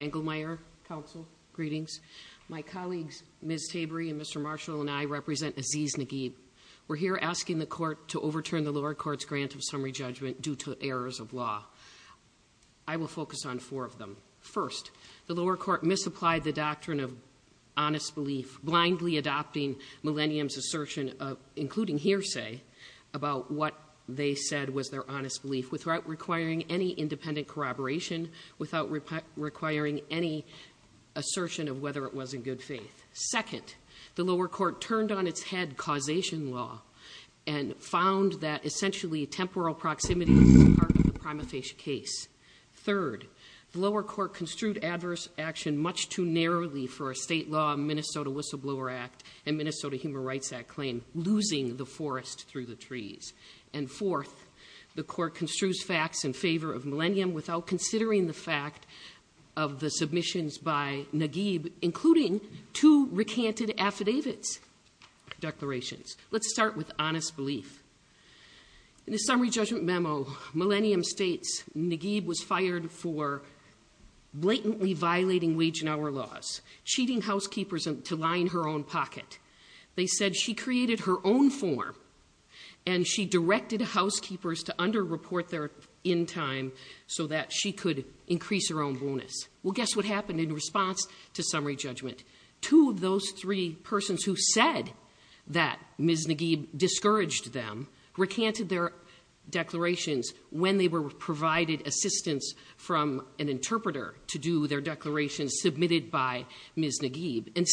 Engelmeyer, counsel, greetings. My colleagues, Ms. Tabry and Mr. Marshall and I represent Isis Naguib. We're here asking the court to overturn the lower court's grant of summary judgment due to errors of law. I will focus on four of them. First, the lower court misapplied the doctrine of honest belief, blindly adopting Millennium's assertion, including hearsay, about what they said was their honest belief, without requiring any independent corroboration, without requiring any assertion of whether it was in good faith. Second, the lower court turned on its head causation law and found that essentially temporal proximity was part of the prima facie case. Third, the lower court construed adverse action much too narrowly for a state law, Minnesota Whistleblower Act, and Minnesota Human Rights Act claim, losing the forest through the trees. And fourth, the court construes facts in favor of Millennium without considering the fact of the submissions by Naguib, including two recanted affidavits declarations. Let's start with honest belief. In the summary judgment memo, Millennium states Naguib was fired for blatantly violating wage and hour laws, cheating housekeepers to line her own pocket. They said she created her form and she directed housekeepers to underreport their end time so that she could increase her own bonus. Well, guess what happened in response to summary judgment? Two of those three persons who said that Ms. Naguib discouraged them recanted their declarations when they were provided assistance from an interpreter to do their declarations submitted by Ms. Naguib. And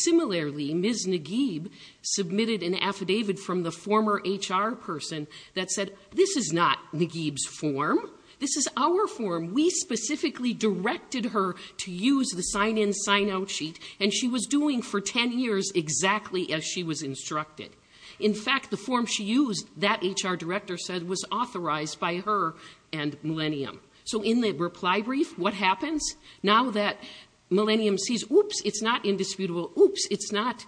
the former HR person that said, this is not Naguib's form. This is our form. We specifically directed her to use the sign in sign out sheet. And she was doing for 10 years exactly as she was instructed. In fact, the form she used that HR director said was authorized by her and Millennium. So in the reply brief, what happens? Now that Millennium sees, oops, it's not indisputable. Oops, it's not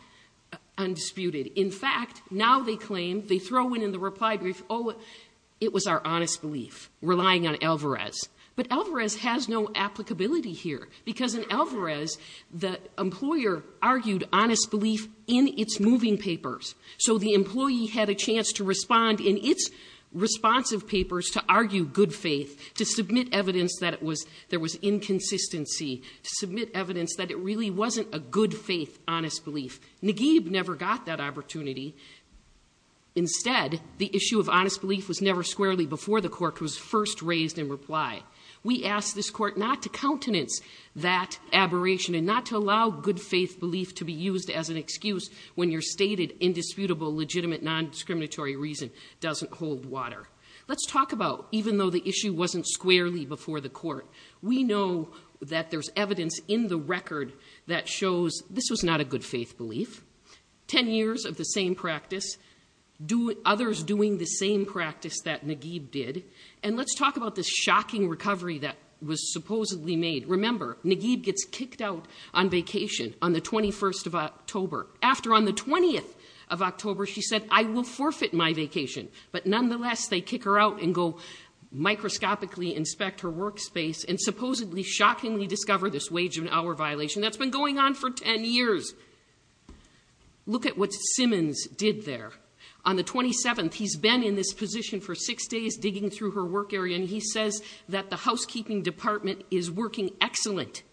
undisputed. In fact, now they claim, they throw in in the reply brief, oh, it was our honest belief, relying on Alvarez. But Alvarez has no applicability here because in Alvarez, the employer argued honest belief in its moving papers. So the employee had a chance to respond in its responsive papers to argue good faith, to submit evidence that it really wasn't a good faith, honest belief. Naguib never got that opportunity. Instead, the issue of honest belief was never squarely before the court was first raised in reply. We asked this court not to countenance that aberration and not to allow good faith belief to be used as an excuse when you're stated indisputable, legitimate, non-discriminatory reason doesn't hold water. Let's talk about even though the issue wasn't squarely before the court, we know that there's evidence in the record that shows this was not a good faith belief. 10 years of the same practice, others doing the same practice that Naguib did. And let's talk about this shocking recovery that was supposedly made. Remember, Naguib gets kicked out on vacation on the 21st of October. After on the 20th of October, she said, I will forfeit my vacation. But nonetheless, they kick her out and go shockingly discover this wage and hour violation that's been going on for 10 years. Look at what Simmons did there. On the 27th, he's been in this position for six days digging through her work area and he says that the housekeeping department is working excellent.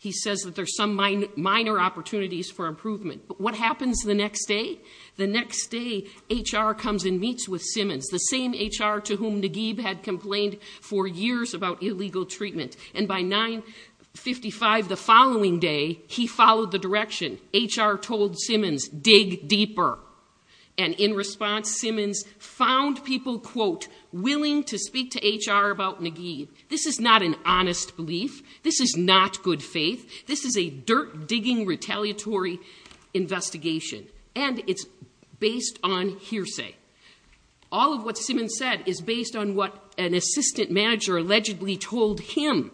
He says that there's some minor opportunities for improvement. But what happens the next day? The next day, HR comes and meets with Simmons, the same HR to whom Naguib had complained for years about illegal treatment. And by 9.55 the following day, he followed the direction. HR told Simmons, dig deeper. And in response, Simmons found people, quote, willing to speak to HR about Naguib. This is not an honest belief. This is not good faith. This is a dirt digging retaliatory investigation. And it's based on hearsay. All of what Simmons said is based on what an assistant manager allegedly told him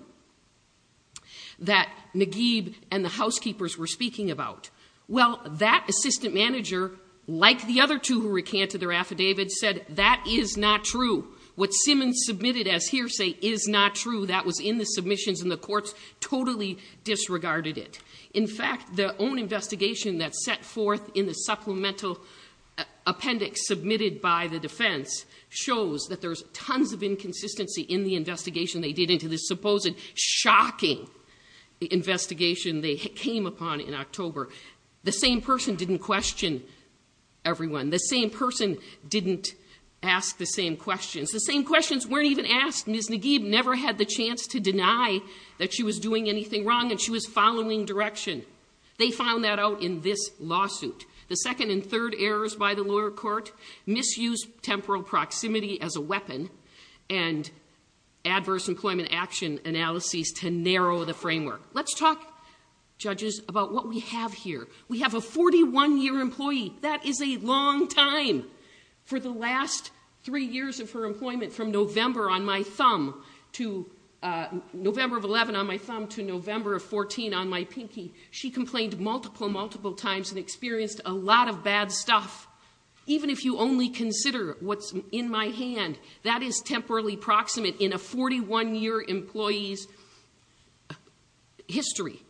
that Naguib and the housekeepers were speaking about. Well, that assistant manager, like the other two who recanted their affidavits, said that is not true. What Simmons submitted as hearsay is not true. That was in the submissions and the courts totally disregarded it. In fact, their own investigation that's set forth in the supplemental appendix submitted by the in the investigation they did into this supposed shocking investigation they came upon in October. The same person didn't question everyone. The same person didn't ask the same questions. The same questions weren't even asked. Ms. Naguib never had the chance to deny that she was doing anything wrong and she was following direction. They found that out in this lawsuit. The second and third errors by the lower court, misused temporal proximity as a weapon and adverse employment action analyses to narrow the framework. Let's talk, judges, about what we have here. We have a 41-year employee. That is a long time. For the last three years of her employment from November on my thumb to November of 11 on my thumb to November of 14 on my pinky, she complained multiple, multiple and experienced a lot of bad stuff. Even if you only consider what's in my hand, that is temporally proximate in a 41-year employee's history.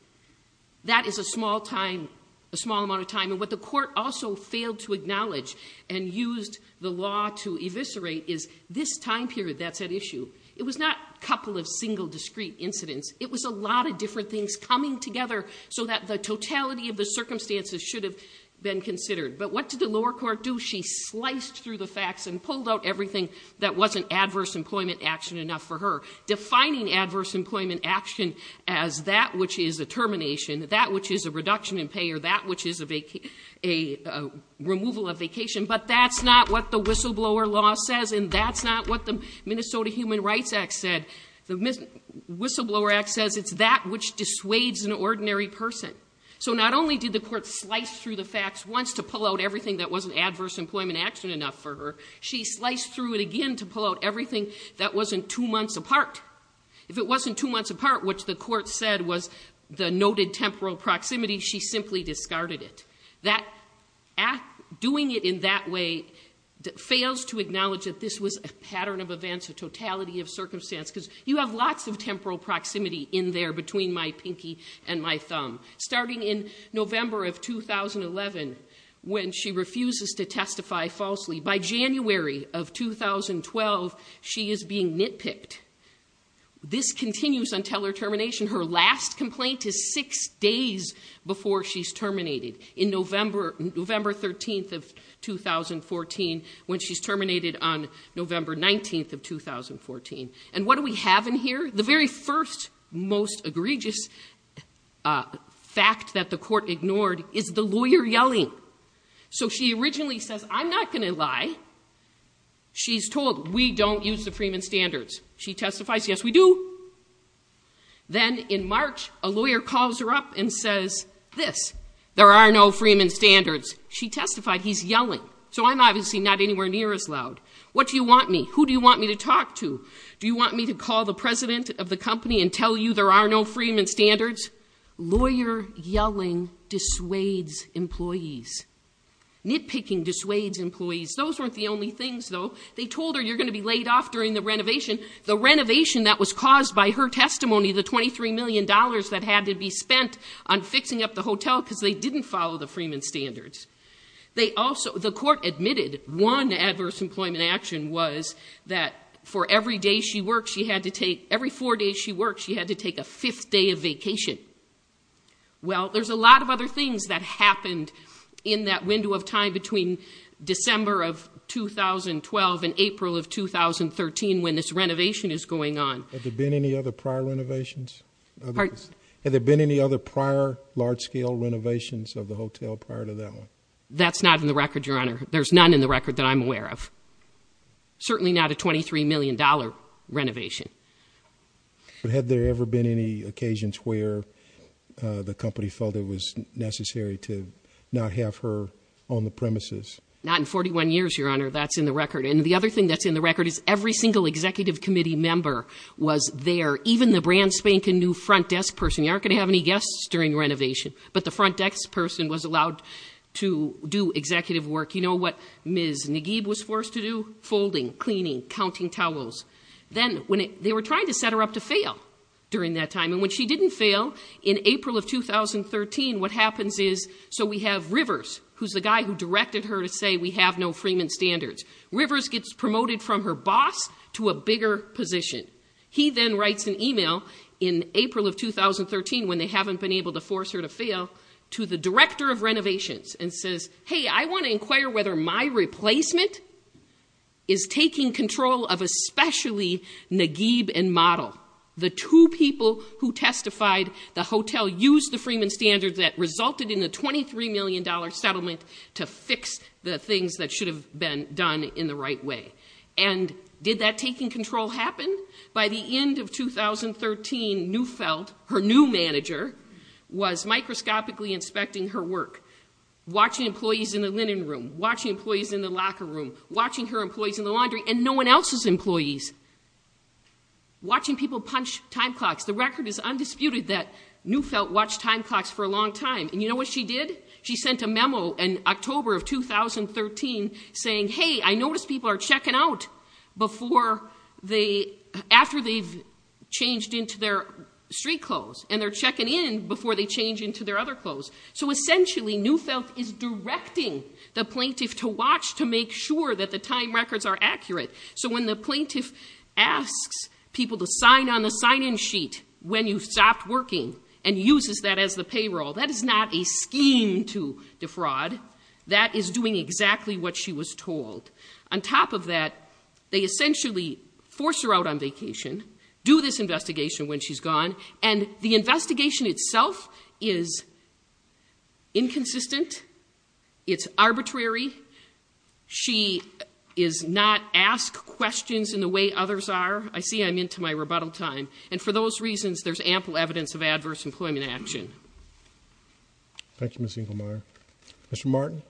That is a small amount of time. What the court also failed to acknowledge and used the law to eviscerate is this time period that's at issue. It was not a couple of single, discrete incidents. It was a lot of different coming together so that the totality of the circumstances should have been considered. But what did the lower court do? She sliced through the facts and pulled out everything that wasn't adverse employment action enough for her. Defining adverse employment action as that which is a termination, that which is a reduction in pay or that which is a removal of vacation. But that's not what the whistleblower law says and that's not what the Minnesota Human Rights Act said. The whistleblower act says it's that which dissuades an ordinary person. So not only did the court slice through the facts once to pull out everything that wasn't adverse employment action enough for her, she sliced through it again to pull out everything that wasn't two months apart. If it wasn't two months apart, which the court said was the noted temporal proximity, she simply discarded it. Doing it in that way fails to acknowledge that this was a pattern of events, a totality of circumstance, because you have lots of temporal proximity in there between my pinky and my thumb. Starting in November of 2011, when she refuses to testify falsely, by January of 2012, she is being nitpicked. This continues until her termination. Her last complaint is six days before she's terminated. In November 13th of 2014, when she's terminated on November 19th of 2014. And what do we have in here? The very first most egregious fact that the court ignored is the lawyer yelling. So she originally says, I'm not going to lie. She's told we don't use the Freeman standards. She testifies, yes we do. Then in March, a lawyer calls her up and says this, there are no Freeman standards. She testified he's yelling. So I'm obviously not anywhere near as loud. What do you want me? Who do you want me to talk to? Do you want me to call the president of the company and tell you there are no Freeman standards? Lawyer yelling dissuades employees. Nitpicking dissuades employees. Those weren't the only things though. They told her you're going to be laid off during the renovation. The renovation that was caused by her testimony, the 23 million dollars that had to be spent on fixing up the hotel because they didn't follow the Freeman standards. They also, the court admitted one adverse employment action was that for every day she worked, she had to take, every four days she worked, she had to take a fifth day of vacation. Well, there's a lot of other things that happened in that window of time between December of 2012 and April of 2013 when this renovation is going on. Have there been any other prior renovations? Have there been any other prior large-scale renovations of the hotel prior to that one? That's not in the record, your honor. There's none in the record that I'm aware of. Certainly not a 23 million dollar renovation. But had there ever been any occasions where the company felt it was necessary to not have her on the premises? Not in 41 years, your honor. That's in the record. And the other thing that's in the record is every single executive committee member was there. Even the brand spanking new front desk person. You aren't going to have any guests during renovation. But the front desk person was allowed to do executive work. You know what Ms. Nagib was forced to do? Folding, cleaning, counting towels. Then when they were trying to set her up to fail during that time. And when she didn't fail in April of 2013, what happens is, so we have Rivers, who's the guy who directed her to say we have no Freeman standards. Rivers gets promoted from her boss to a bigger position. He then writes an email in April of 2013, when they haven't been able to force her to fail, to the director of renovations and says, hey, I want to inquire whether my replacement is taking control of especially and model. The two people who testified, the hotel used the Freeman standards that resulted in a $23 million settlement to fix the things that should have been done in the right way. And did that taking control happen? By the end of 2013, Neufeld, her new manager, was microscopically inspecting her work. Watching employees in the linen room. Watching employees in the locker room. Watching her employees in the laundry. And no one else's employees. Watching people punch time clocks. The record is undisputed that Neufeld watched time clocks for a long time. And you know what she did? She sent a memo in October of 2013 saying, hey, I noticed people are checking out after they've changed into their street clothes. And they're checking in before they change into their other clothes. So essentially, Neufeld is directing the plaintiff to watch to make sure that the time records are accurate. So when the plaintiff asks people to sign on the sign-in sheet when you've stopped working and uses that as the payroll, that is not a scheme to defraud. That is doing exactly what she was told. On top of that, they essentially force her out on vacation, do this investigation when she's gone. And the investigation itself is inconsistent. It's arbitrary. She is not asked questions in the way others are. I see I'm into my rebuttal time. And for those reasons, there's ample evidence of adverse employment action. Thank you, Ms. Inglemeyer. Mr. Martin?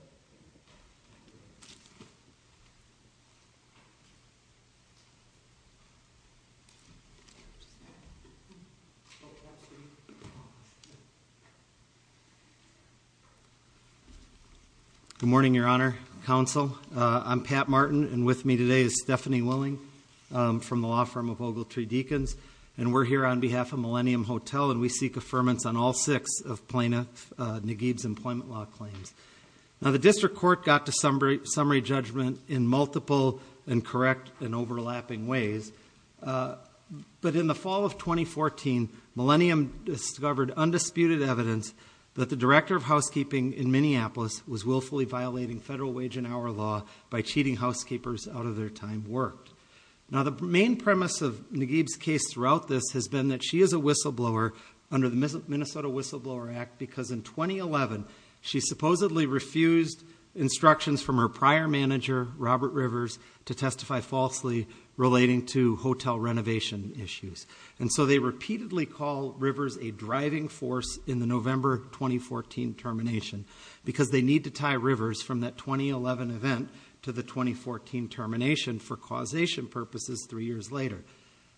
Good morning, Your Honor, Counsel. I'm Pat Martin. And with me today is Stephanie Willing from the law firm of Ogletree Deacons. And we're here on behalf of Millennium Hotel, and we seek affirmance on all six of plaintiff Nagib's employment law claims. Now, the district court got to summary judgment in multiple and correct and overlapping ways. But in the fall of 2014, Millennium discovered undisputed evidence that the director of housekeeping in Minneapolis was willfully violating federal wage and hour law by cheating housekeepers out of their time worked. Now, the main premise of Nagib's case throughout this has been that she is a whistleblower under the Minnesota Whistleblower Act because in 2011, she supposedly refused instructions from her prior manager, Robert Rivers, to testify falsely relating to hotel renovation issues. And so they repeatedly call Rivers a driving force in the November 2014 termination because they need to tie Rivers from that 2011 event to the 2014 termination for causation purposes three years later.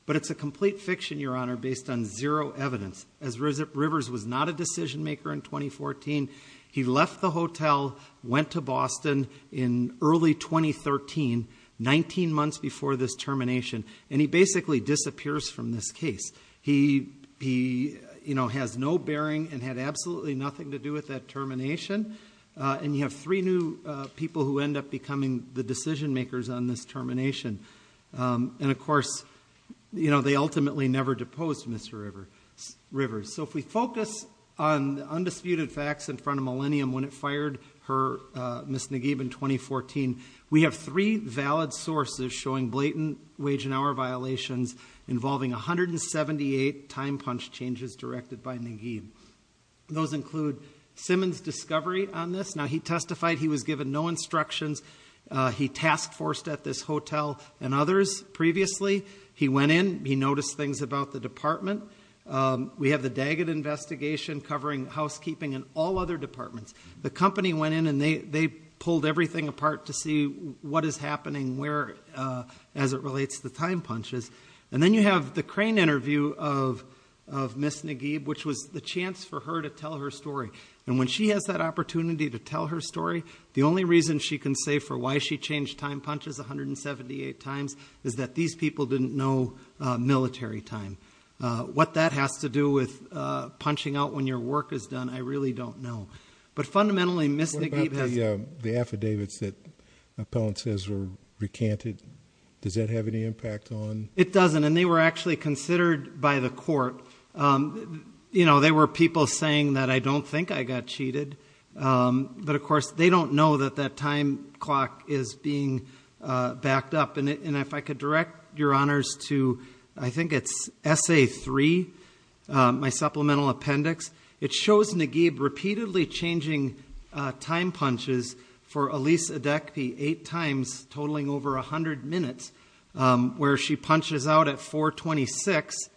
But it's a complete fiction, Your Honor, based on zero evidence. As Rivers was not a decision maker in 2014, he left the hotel, went to Boston in early 2013, 19 months before this termination, and he basically disappears from this case. He has no bearing and had absolutely nothing to do with that termination. And you have three new people who end up becoming the decision makers on this termination. And of course, they ultimately never deposed Mr. Rivers. So if we focus on the undisputed facts in front of Millennium when it fired her, Ms. Nagib, in 2014, we have three valid sources showing blatant wage and hour violations involving 178 time punch changes directed by Nagib. Those include Simmons' discovery on this. Now, he testified he was given no instructions. He task-forced at this hotel and others previously. He went in. He noticed things about the department. We have the Daggett investigation covering housekeeping and all other departments. The company went in and they pulled everything apart to see what is happening where as it relates to time punches. And then you have the Crane interview of Ms. Nagib, which was the chance for her to tell her story. And when she has that opportunity to tell her story, the only reason she can say for why she changed time punches 178 times is that these people didn't know military time. What that has to do with punching out when your work is done, I really don't know. But fundamentally, Ms. Nagib has... What about the affidavits that Appellant says were recanted? Does that have any impact on... It doesn't. And they were actually considered by the court. You know, they were people saying that I don't think I got cheated. But of course, they don't know that that clock is being backed up. And if I could direct your honors to, I think it's essay three, my supplemental appendix. It shows Nagib repeatedly changing time punches for Alyse Adekpi eight times totaling over 100 minutes, where she punches out at 426.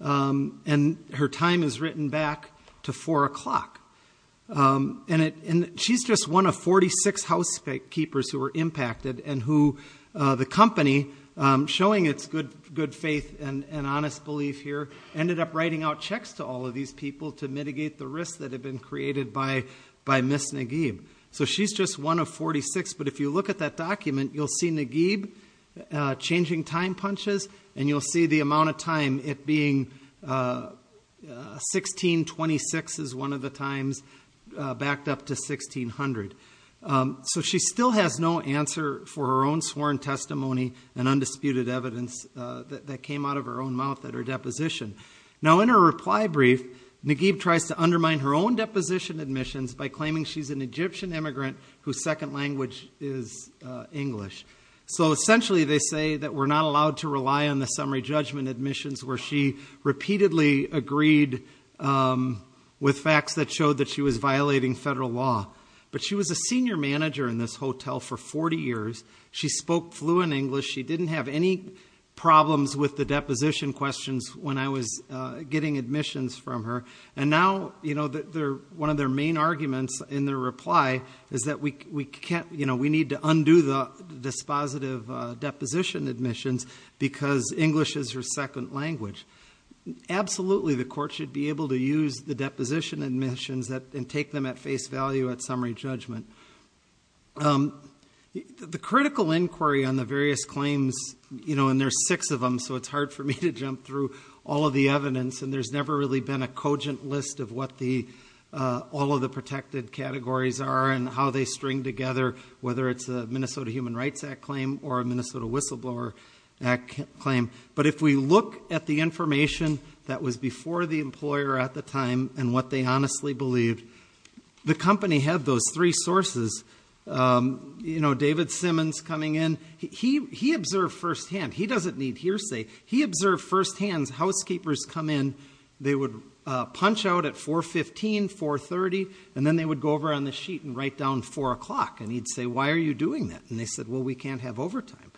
And her time is written back to four o'clock. And she's just one of 46 housekeepers who were impacted and who the company, showing it's good faith and honest belief here, ended up writing out checks to all of these people to mitigate the risks that had been created by Ms. Nagib. So she's just one of 46. But if you look at that document, you'll see Nagib changing time punches. And you'll see the amount of time it being 1626 is one of the times backed up to 1600. So she still has no answer for her own sworn testimony and undisputed evidence that came out of her own mouth at her deposition. Now in her reply brief, Nagib tries to undermine her own deposition admissions by claiming she's Egyptian immigrant whose second language is English. So essentially they say that we're not allowed to rely on the summary judgment admissions where she repeatedly agreed with facts that showed that she was violating federal law. But she was a senior manager in this hotel for 40 years. She spoke fluent English. She didn't have any problems with the deposition questions when I was getting admissions from her. And now one of their main arguments in their reply is that we need to undo the dispositive deposition admissions because English is her second language. Absolutely, the court should be able to use the deposition admissions and take them at face value at summary judgment. The critical inquiry on the various claims, and there's six of them, so it's hard for me to jump through all of the evidence. And there's never really been a cogent list of what all of the protected categories are and how they string together, whether it's a Minnesota Human Rights Act claim or a Minnesota Whistleblower Act claim. But if we look at the information that was before the employer at the time and what they honestly believed, the company had those three sources. David Simmons coming in, he observed firsthand. He doesn't need hearsay. He observed firsthand, housekeepers come in, they would punch out at 4.15, 4.30, and then they would go over on the sheet and write down 4 o'clock. And he'd say, why are you doing that? And they said, well, we can't have overtime.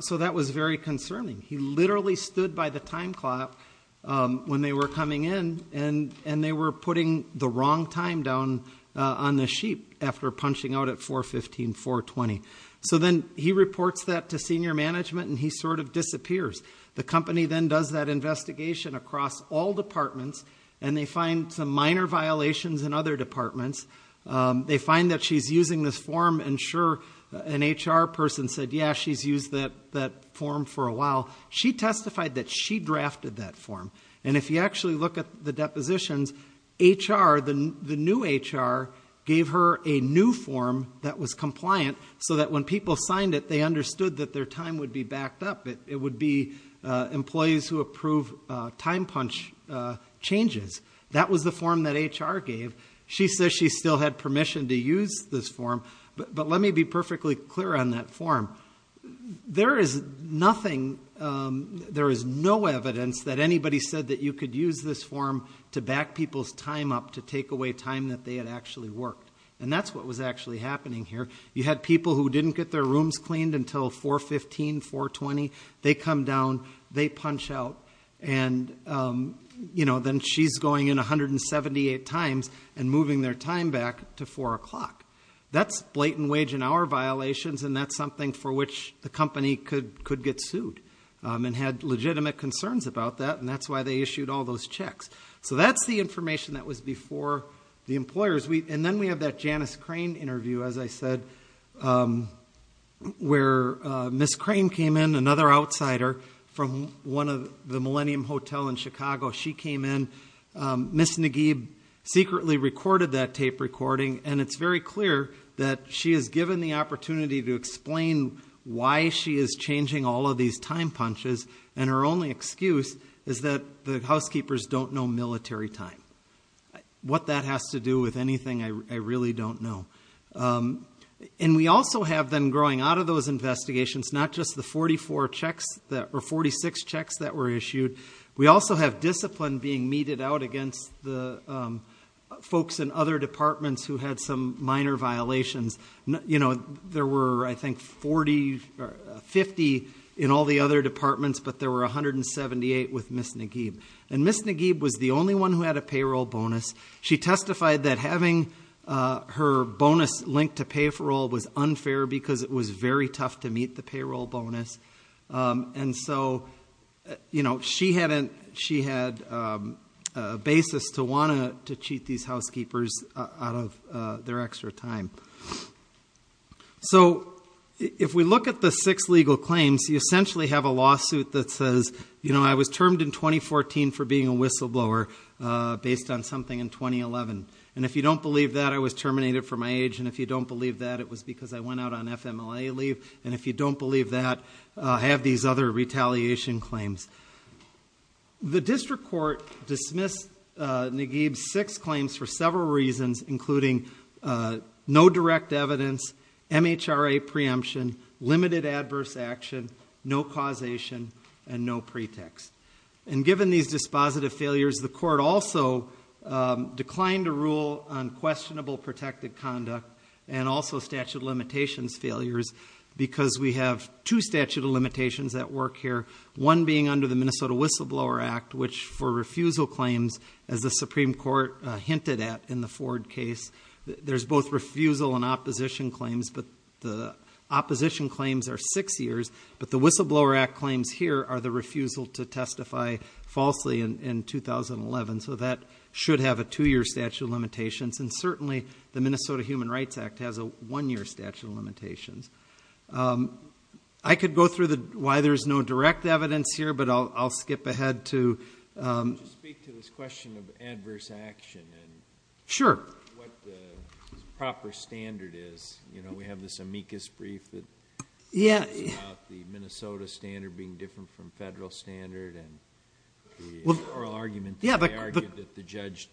So that was very concerning. He literally stood by the time clock when they were coming in, and they were putting the wrong time down on the sheet after punching out at 4.15, 4.20. So then he reports that to senior management, and he sort of disappears. The company then does that investigation across all departments, and they find some minor violations in other departments. They find that she's using this form, and sure, an HR person said, yeah, she's used that form for a while. She testified that she drafted that form. And if you actually look at the depositions, HR, the new HR, gave her a new form that was compliant so that when people signed it, they understood that their time would be backed up. It would be employees who approve time punch changes. That was the form that HR gave. She says she still had permission to use this form. But let me be perfectly clear on that form. There is nothing, there is no evidence that anybody said that you could use this form to back people's time up, to take away time that they had actually worked. And that's what was actually happening here. You had people who didn't get their rooms cleaned until 4.15, 4.20. They come down, they punch out, and then she's going in 178 times and moving their time back to 4 o'clock. That's blatant wage and hour violations, and that's something for which the company could get sued and had legitimate concerns about that, and that's why they issued all those checks. So that's the information that was before the employers. And then we have that Janice Crane interview, as I said, where Ms. Crane came in, another outsider from one of the Millennium Hotel in Chicago, she came in. Ms. Nagib secretly recorded that tape recording, and it's very clear that she is given the opportunity to explain why she is changing all of these time punches, and her only excuse is that the housekeepers don't know military time. What that has to do with anything, I really don't know. And we also have them growing out of those 46 checks that were issued. We also have discipline being meted out against the folks in other departments who had some minor violations. There were, I think, 40 or 50 in all the other departments, but there were 178 with Ms. Nagib. And Ms. Nagib was the only one who had a payroll bonus. She testified that having her bonus linked to payroll was unfair because it was very tough to get. And so she had a basis to want to cheat these housekeepers out of their extra time. So if we look at the six legal claims, you essentially have a lawsuit that says, you know, I was termed in 2014 for being a whistleblower based on something in 2011. And if you don't believe that, I was terminated for my age. And if you don't believe that, it was because I went out on FMLA leave. And if you don't believe that, I have these other retaliation claims. The district court dismissed Nagib's six claims for several reasons, including no direct evidence, MHRA preemption, limited adverse action, no causation, and no pretext. And given these dispositive failures, the court also declined to rule on questionable protected conduct and also statute of limitations failures because we have two statute of limitations that work here. One being under the Minnesota Whistleblower Act, which for refusal claims, as the Supreme Court hinted at in the Ford case, there's both refusal and opposition claims. But the opposition claims are six years, but the Whistleblower Act claims here are the refusal to testify falsely in 2011. So that should have a two-year statute of limitations. And certainly, the Minnesota Human Rights Act has a one-year statute of limitations. I could go through why there's no direct evidence here, but I'll skip ahead to... Could you speak to this question of adverse action and what the proper standard is? We have this amicus brief that talks about the Minnesota standard being different from federal standard and the oral argument that they argued that the judge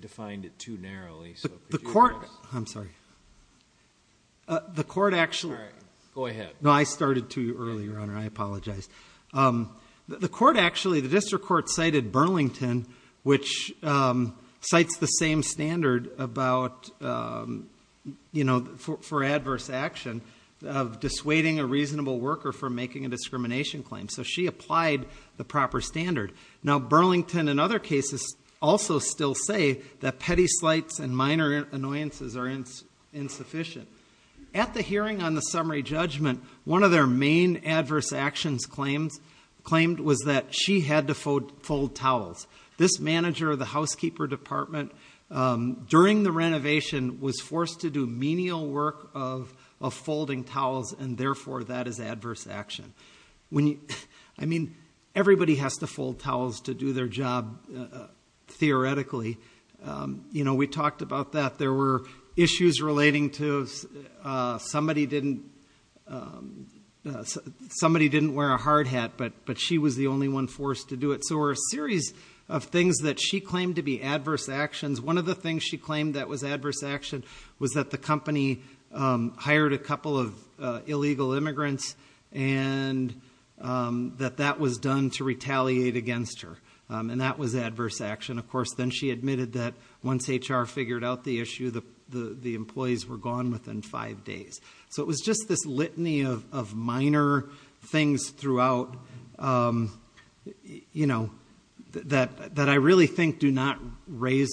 defined it too narrowly. The court... I'm sorry. The court actually... Go ahead. No, I started too early, Your Honor. I apologize. The court actually... The district court cited Burlington, which cites the same standard about for adverse action of dissuading a reasonable worker from making a discrimination claim. So Burlington, in other cases, also still say that petty slights and minor annoyances are insufficient. At the hearing on the summary judgment, one of their main adverse actions claimed was that she had to fold towels. This manager of the housekeeper department, during the renovation, was forced to do menial work of folding towels, and therefore, that is their job, theoretically. We talked about that. There were issues relating to... Somebody didn't wear a hard hat, but she was the only one forced to do it. So there were a series of things that she claimed to be adverse actions. One of the things she claimed that was adverse action was that the company hired a couple of illegal immigrants, and that that was done to retaliate against her. And that was adverse action. Of course, then she admitted that once HR figured out the issue, the employees were gone within five days. So it was just this litany of minor things throughout that I really think do not rise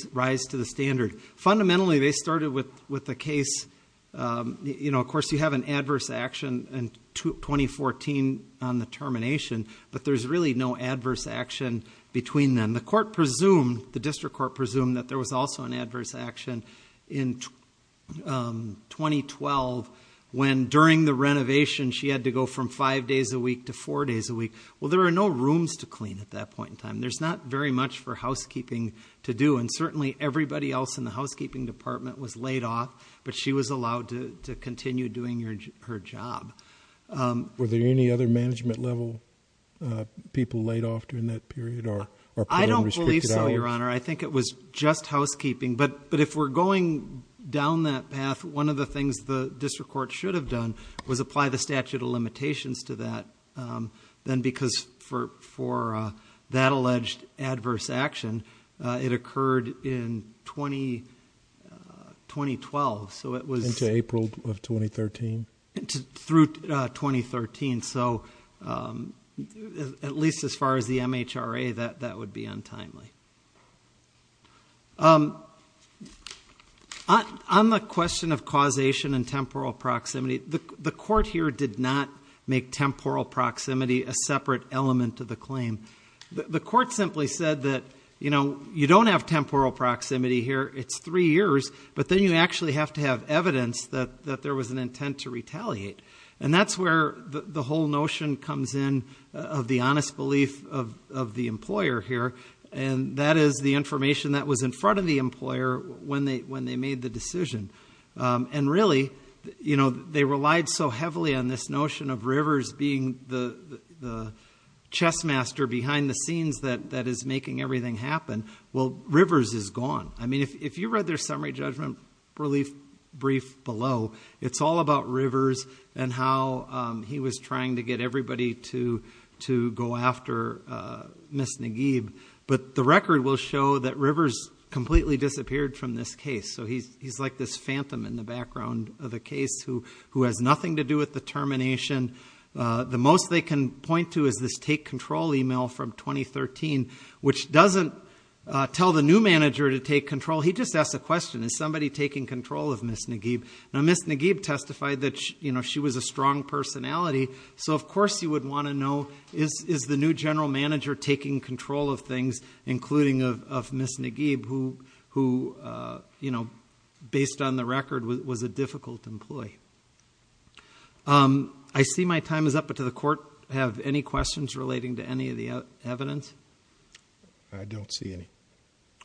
to the standard. Fundamentally, they started with the case... 2014 on the termination, but there's really no adverse action between them. The court presumed, the district court presumed that there was also an adverse action in 2012, when during the renovation, she had to go from five days a week to four days a week. Well, there are no rooms to clean at that point in time. There's not very much for housekeeping to do. And certainly, everybody else in the housekeeping department was laid off, but she was allowed to continue doing her job. Were there any other management level people laid off during that period? I don't believe so, Your Honor. I think it was just housekeeping. But if we're going down that path, one of the things the district court should have done was apply the statute of limitations to that. Then because for that alleged adverse action, it occurred in 2012. Into April of 2013? Through 2013. So at least as far as the MHRA, that would be untimely. On the question of causation and temporal proximity, the court here did not make temporal proximity a separate element to the claim. The court simply said that you don't have temporal proximity here. It's three years, but then you actually have to have evidence that there was intent to retaliate. And that's where the whole notion comes in of the honest belief of the employer here. And that is the information that was in front of the employer when they made the decision. And really, they relied so heavily on this notion of Rivers being the chess master behind the scenes that is making everything happen. Well, Rivers is gone. If you read their records, it's all about Rivers and how he was trying to get everybody to go after Ms. Nagib. But the record will show that Rivers completely disappeared from this case. So he's like this phantom in the background of the case who has nothing to do with the termination. The most they can point to is this take control email from 2013, which doesn't tell the new manager to take control. He just asks the question, is somebody taking control of Ms. Nagib? Now, Ms. Nagib testified that she was a strong personality. So of course, you would want to know, is the new general manager taking control of things, including of Ms. Nagib, who, based on the record, was a difficult employee? I see my time is up. But to the court, have any questions relating to any of the evidence? I don't see any.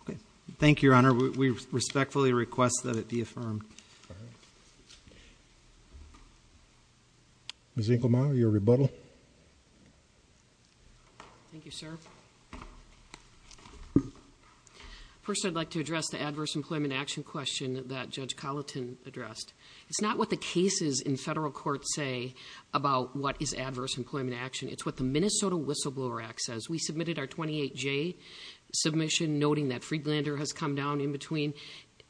Okay. Thank you, Your Honor. We respectfully request that it be affirmed. Ms. Inkelmeyer, your rebuttal. Thank you, sir. First, I'd like to address the adverse employment action question that Judge Colleton addressed. It's not what the cases in federal court say about what is adverse employment action. It's what the Minnesota Whistleblower Act says. We submitted our 28J submission, noting that Friedlander has come down in between.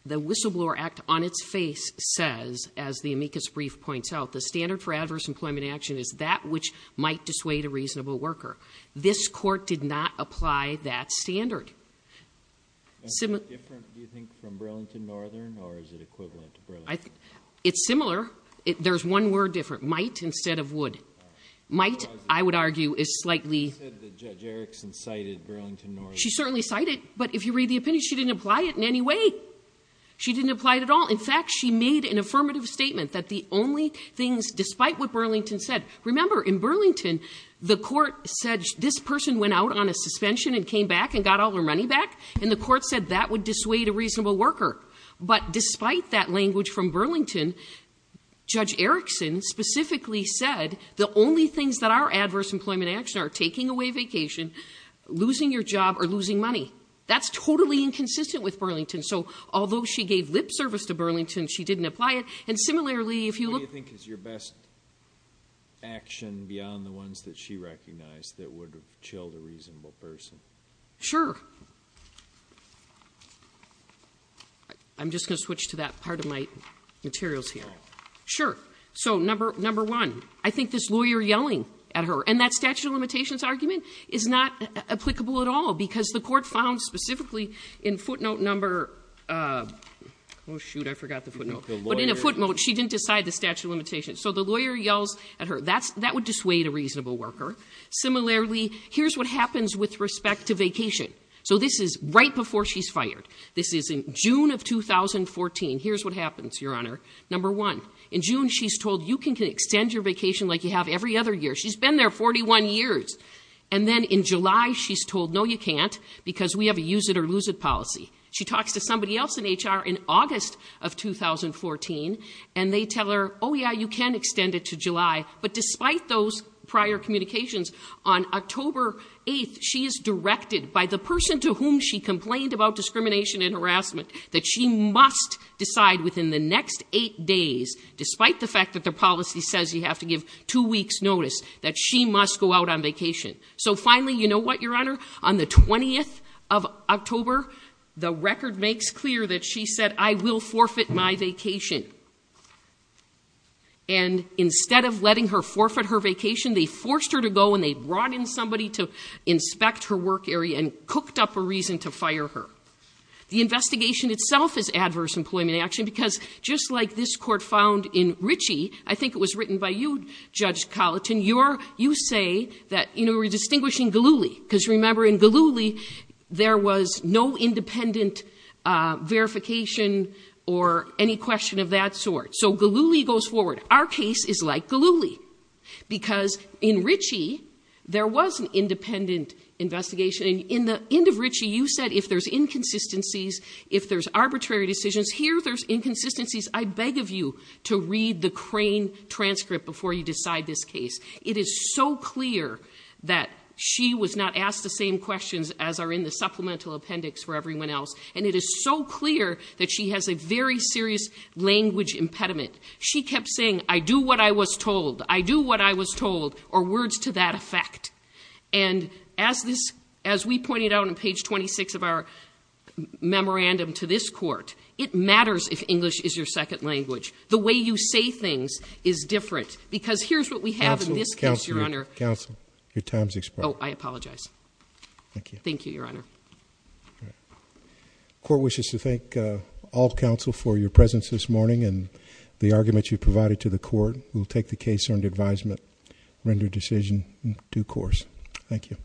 The Whistleblower Act, on its face, says, as the amicus brief points out, the standard for adverse employment action is that which might dissuade a reasonable worker. This court did not apply that standard. Is it different, do you think, from Burlington Northern, or is it equivalent to Burlington? It's similar. There's one word different. Might instead of would. Might, I would argue, is slightly You said that Judge Erickson cited Burlington Northern. She certainly cited it. But if you read the opinion, she didn't apply it in any way. She didn't apply it at all. In fact, she made an affirmative statement that the only things, despite what Burlington said. Remember, in Burlington, the court said this person went out on a suspension and came back and got all their money back. And the court said that would dissuade a reasonable worker. But despite that language from Burlington, Judge Erickson specifically said the only things that are adverse employment action are taking away vacation, losing your job, or losing money. That's totally inconsistent with Burlington. So, although she gave lip service to Burlington, she didn't apply it. And similarly, if you look- What do you think is your best action beyond the ones that she recognized that would have chilled a reasonable person? Sure. I'm just going to switch to that part of my materials here. Sure. So, number one, I think this lawyer yelling at her, and that statute of limitations argument is not applicable at all because the court found specifically in footnote number, oh, shoot, I forgot the footnote. But in a footnote, she didn't decide the statute of limitations. So, the lawyer yells at her. That would dissuade a reasonable worker. Similarly, here's what happens with respect to vacation. So, this is right before she's fired. This is in June of 2014. Here's what happens, Your Honor. Number one, in June, she's told you can extend your vacation like every other year. She's been there 41 years. And then in July, she's told, no, you can't because we have a use it or lose it policy. She talks to somebody else in HR in August of 2014, and they tell her, oh, yeah, you can extend it to July. But despite those prior communications, on October 8th, she is directed by the person to whom she complained about discrimination and harassment that she must decide within the next eight days, despite the fact that their policy says you have to give two weeks' notice, that she must go out on vacation. So, finally, you know what, Your Honor? On the 20th of October, the record makes clear that she said, I will forfeit my vacation. And instead of letting her forfeit her vacation, they forced her to go and they brought in somebody to inspect her work area and cooked up a reason to fire her. The investigation itself is adverse employment action because just like this court found in Ritchie, I think it was written by you, Judge Colleton, you say that, you know, we're distinguishing Galluli because, remember, in Galluli, there was no independent verification or any question of that sort. So Galluli goes forward. Our case is like Galluli because in Ritchie, there was an independent investigation. And in the end of Ritchie, you said if there's inconsistencies, if there's arbitrary decisions, here there's inconsistencies, I beg of you to read the crane transcript before you decide this case. It is so clear that she was not asked the same questions as are in the supplemental appendix for everyone else. And it is so clear that she has a very serious language impediment. She kept saying, I do what I was told, I do what I was told, or words to that effect. And as this, as we pointed out on page 26 of our memorandum to this court, it matters if English is your second language. The way you say things is different. Because here's what we have in this case, Your Honor. Counsel, counsel, your time's expired. Oh, I apologize. Thank you. Thank you, Your Honor. All right. The court wishes to thank all counsel for your presence this morning and the argument you provided to the court. We'll take the case under advisement, render decision in due course. Thank you.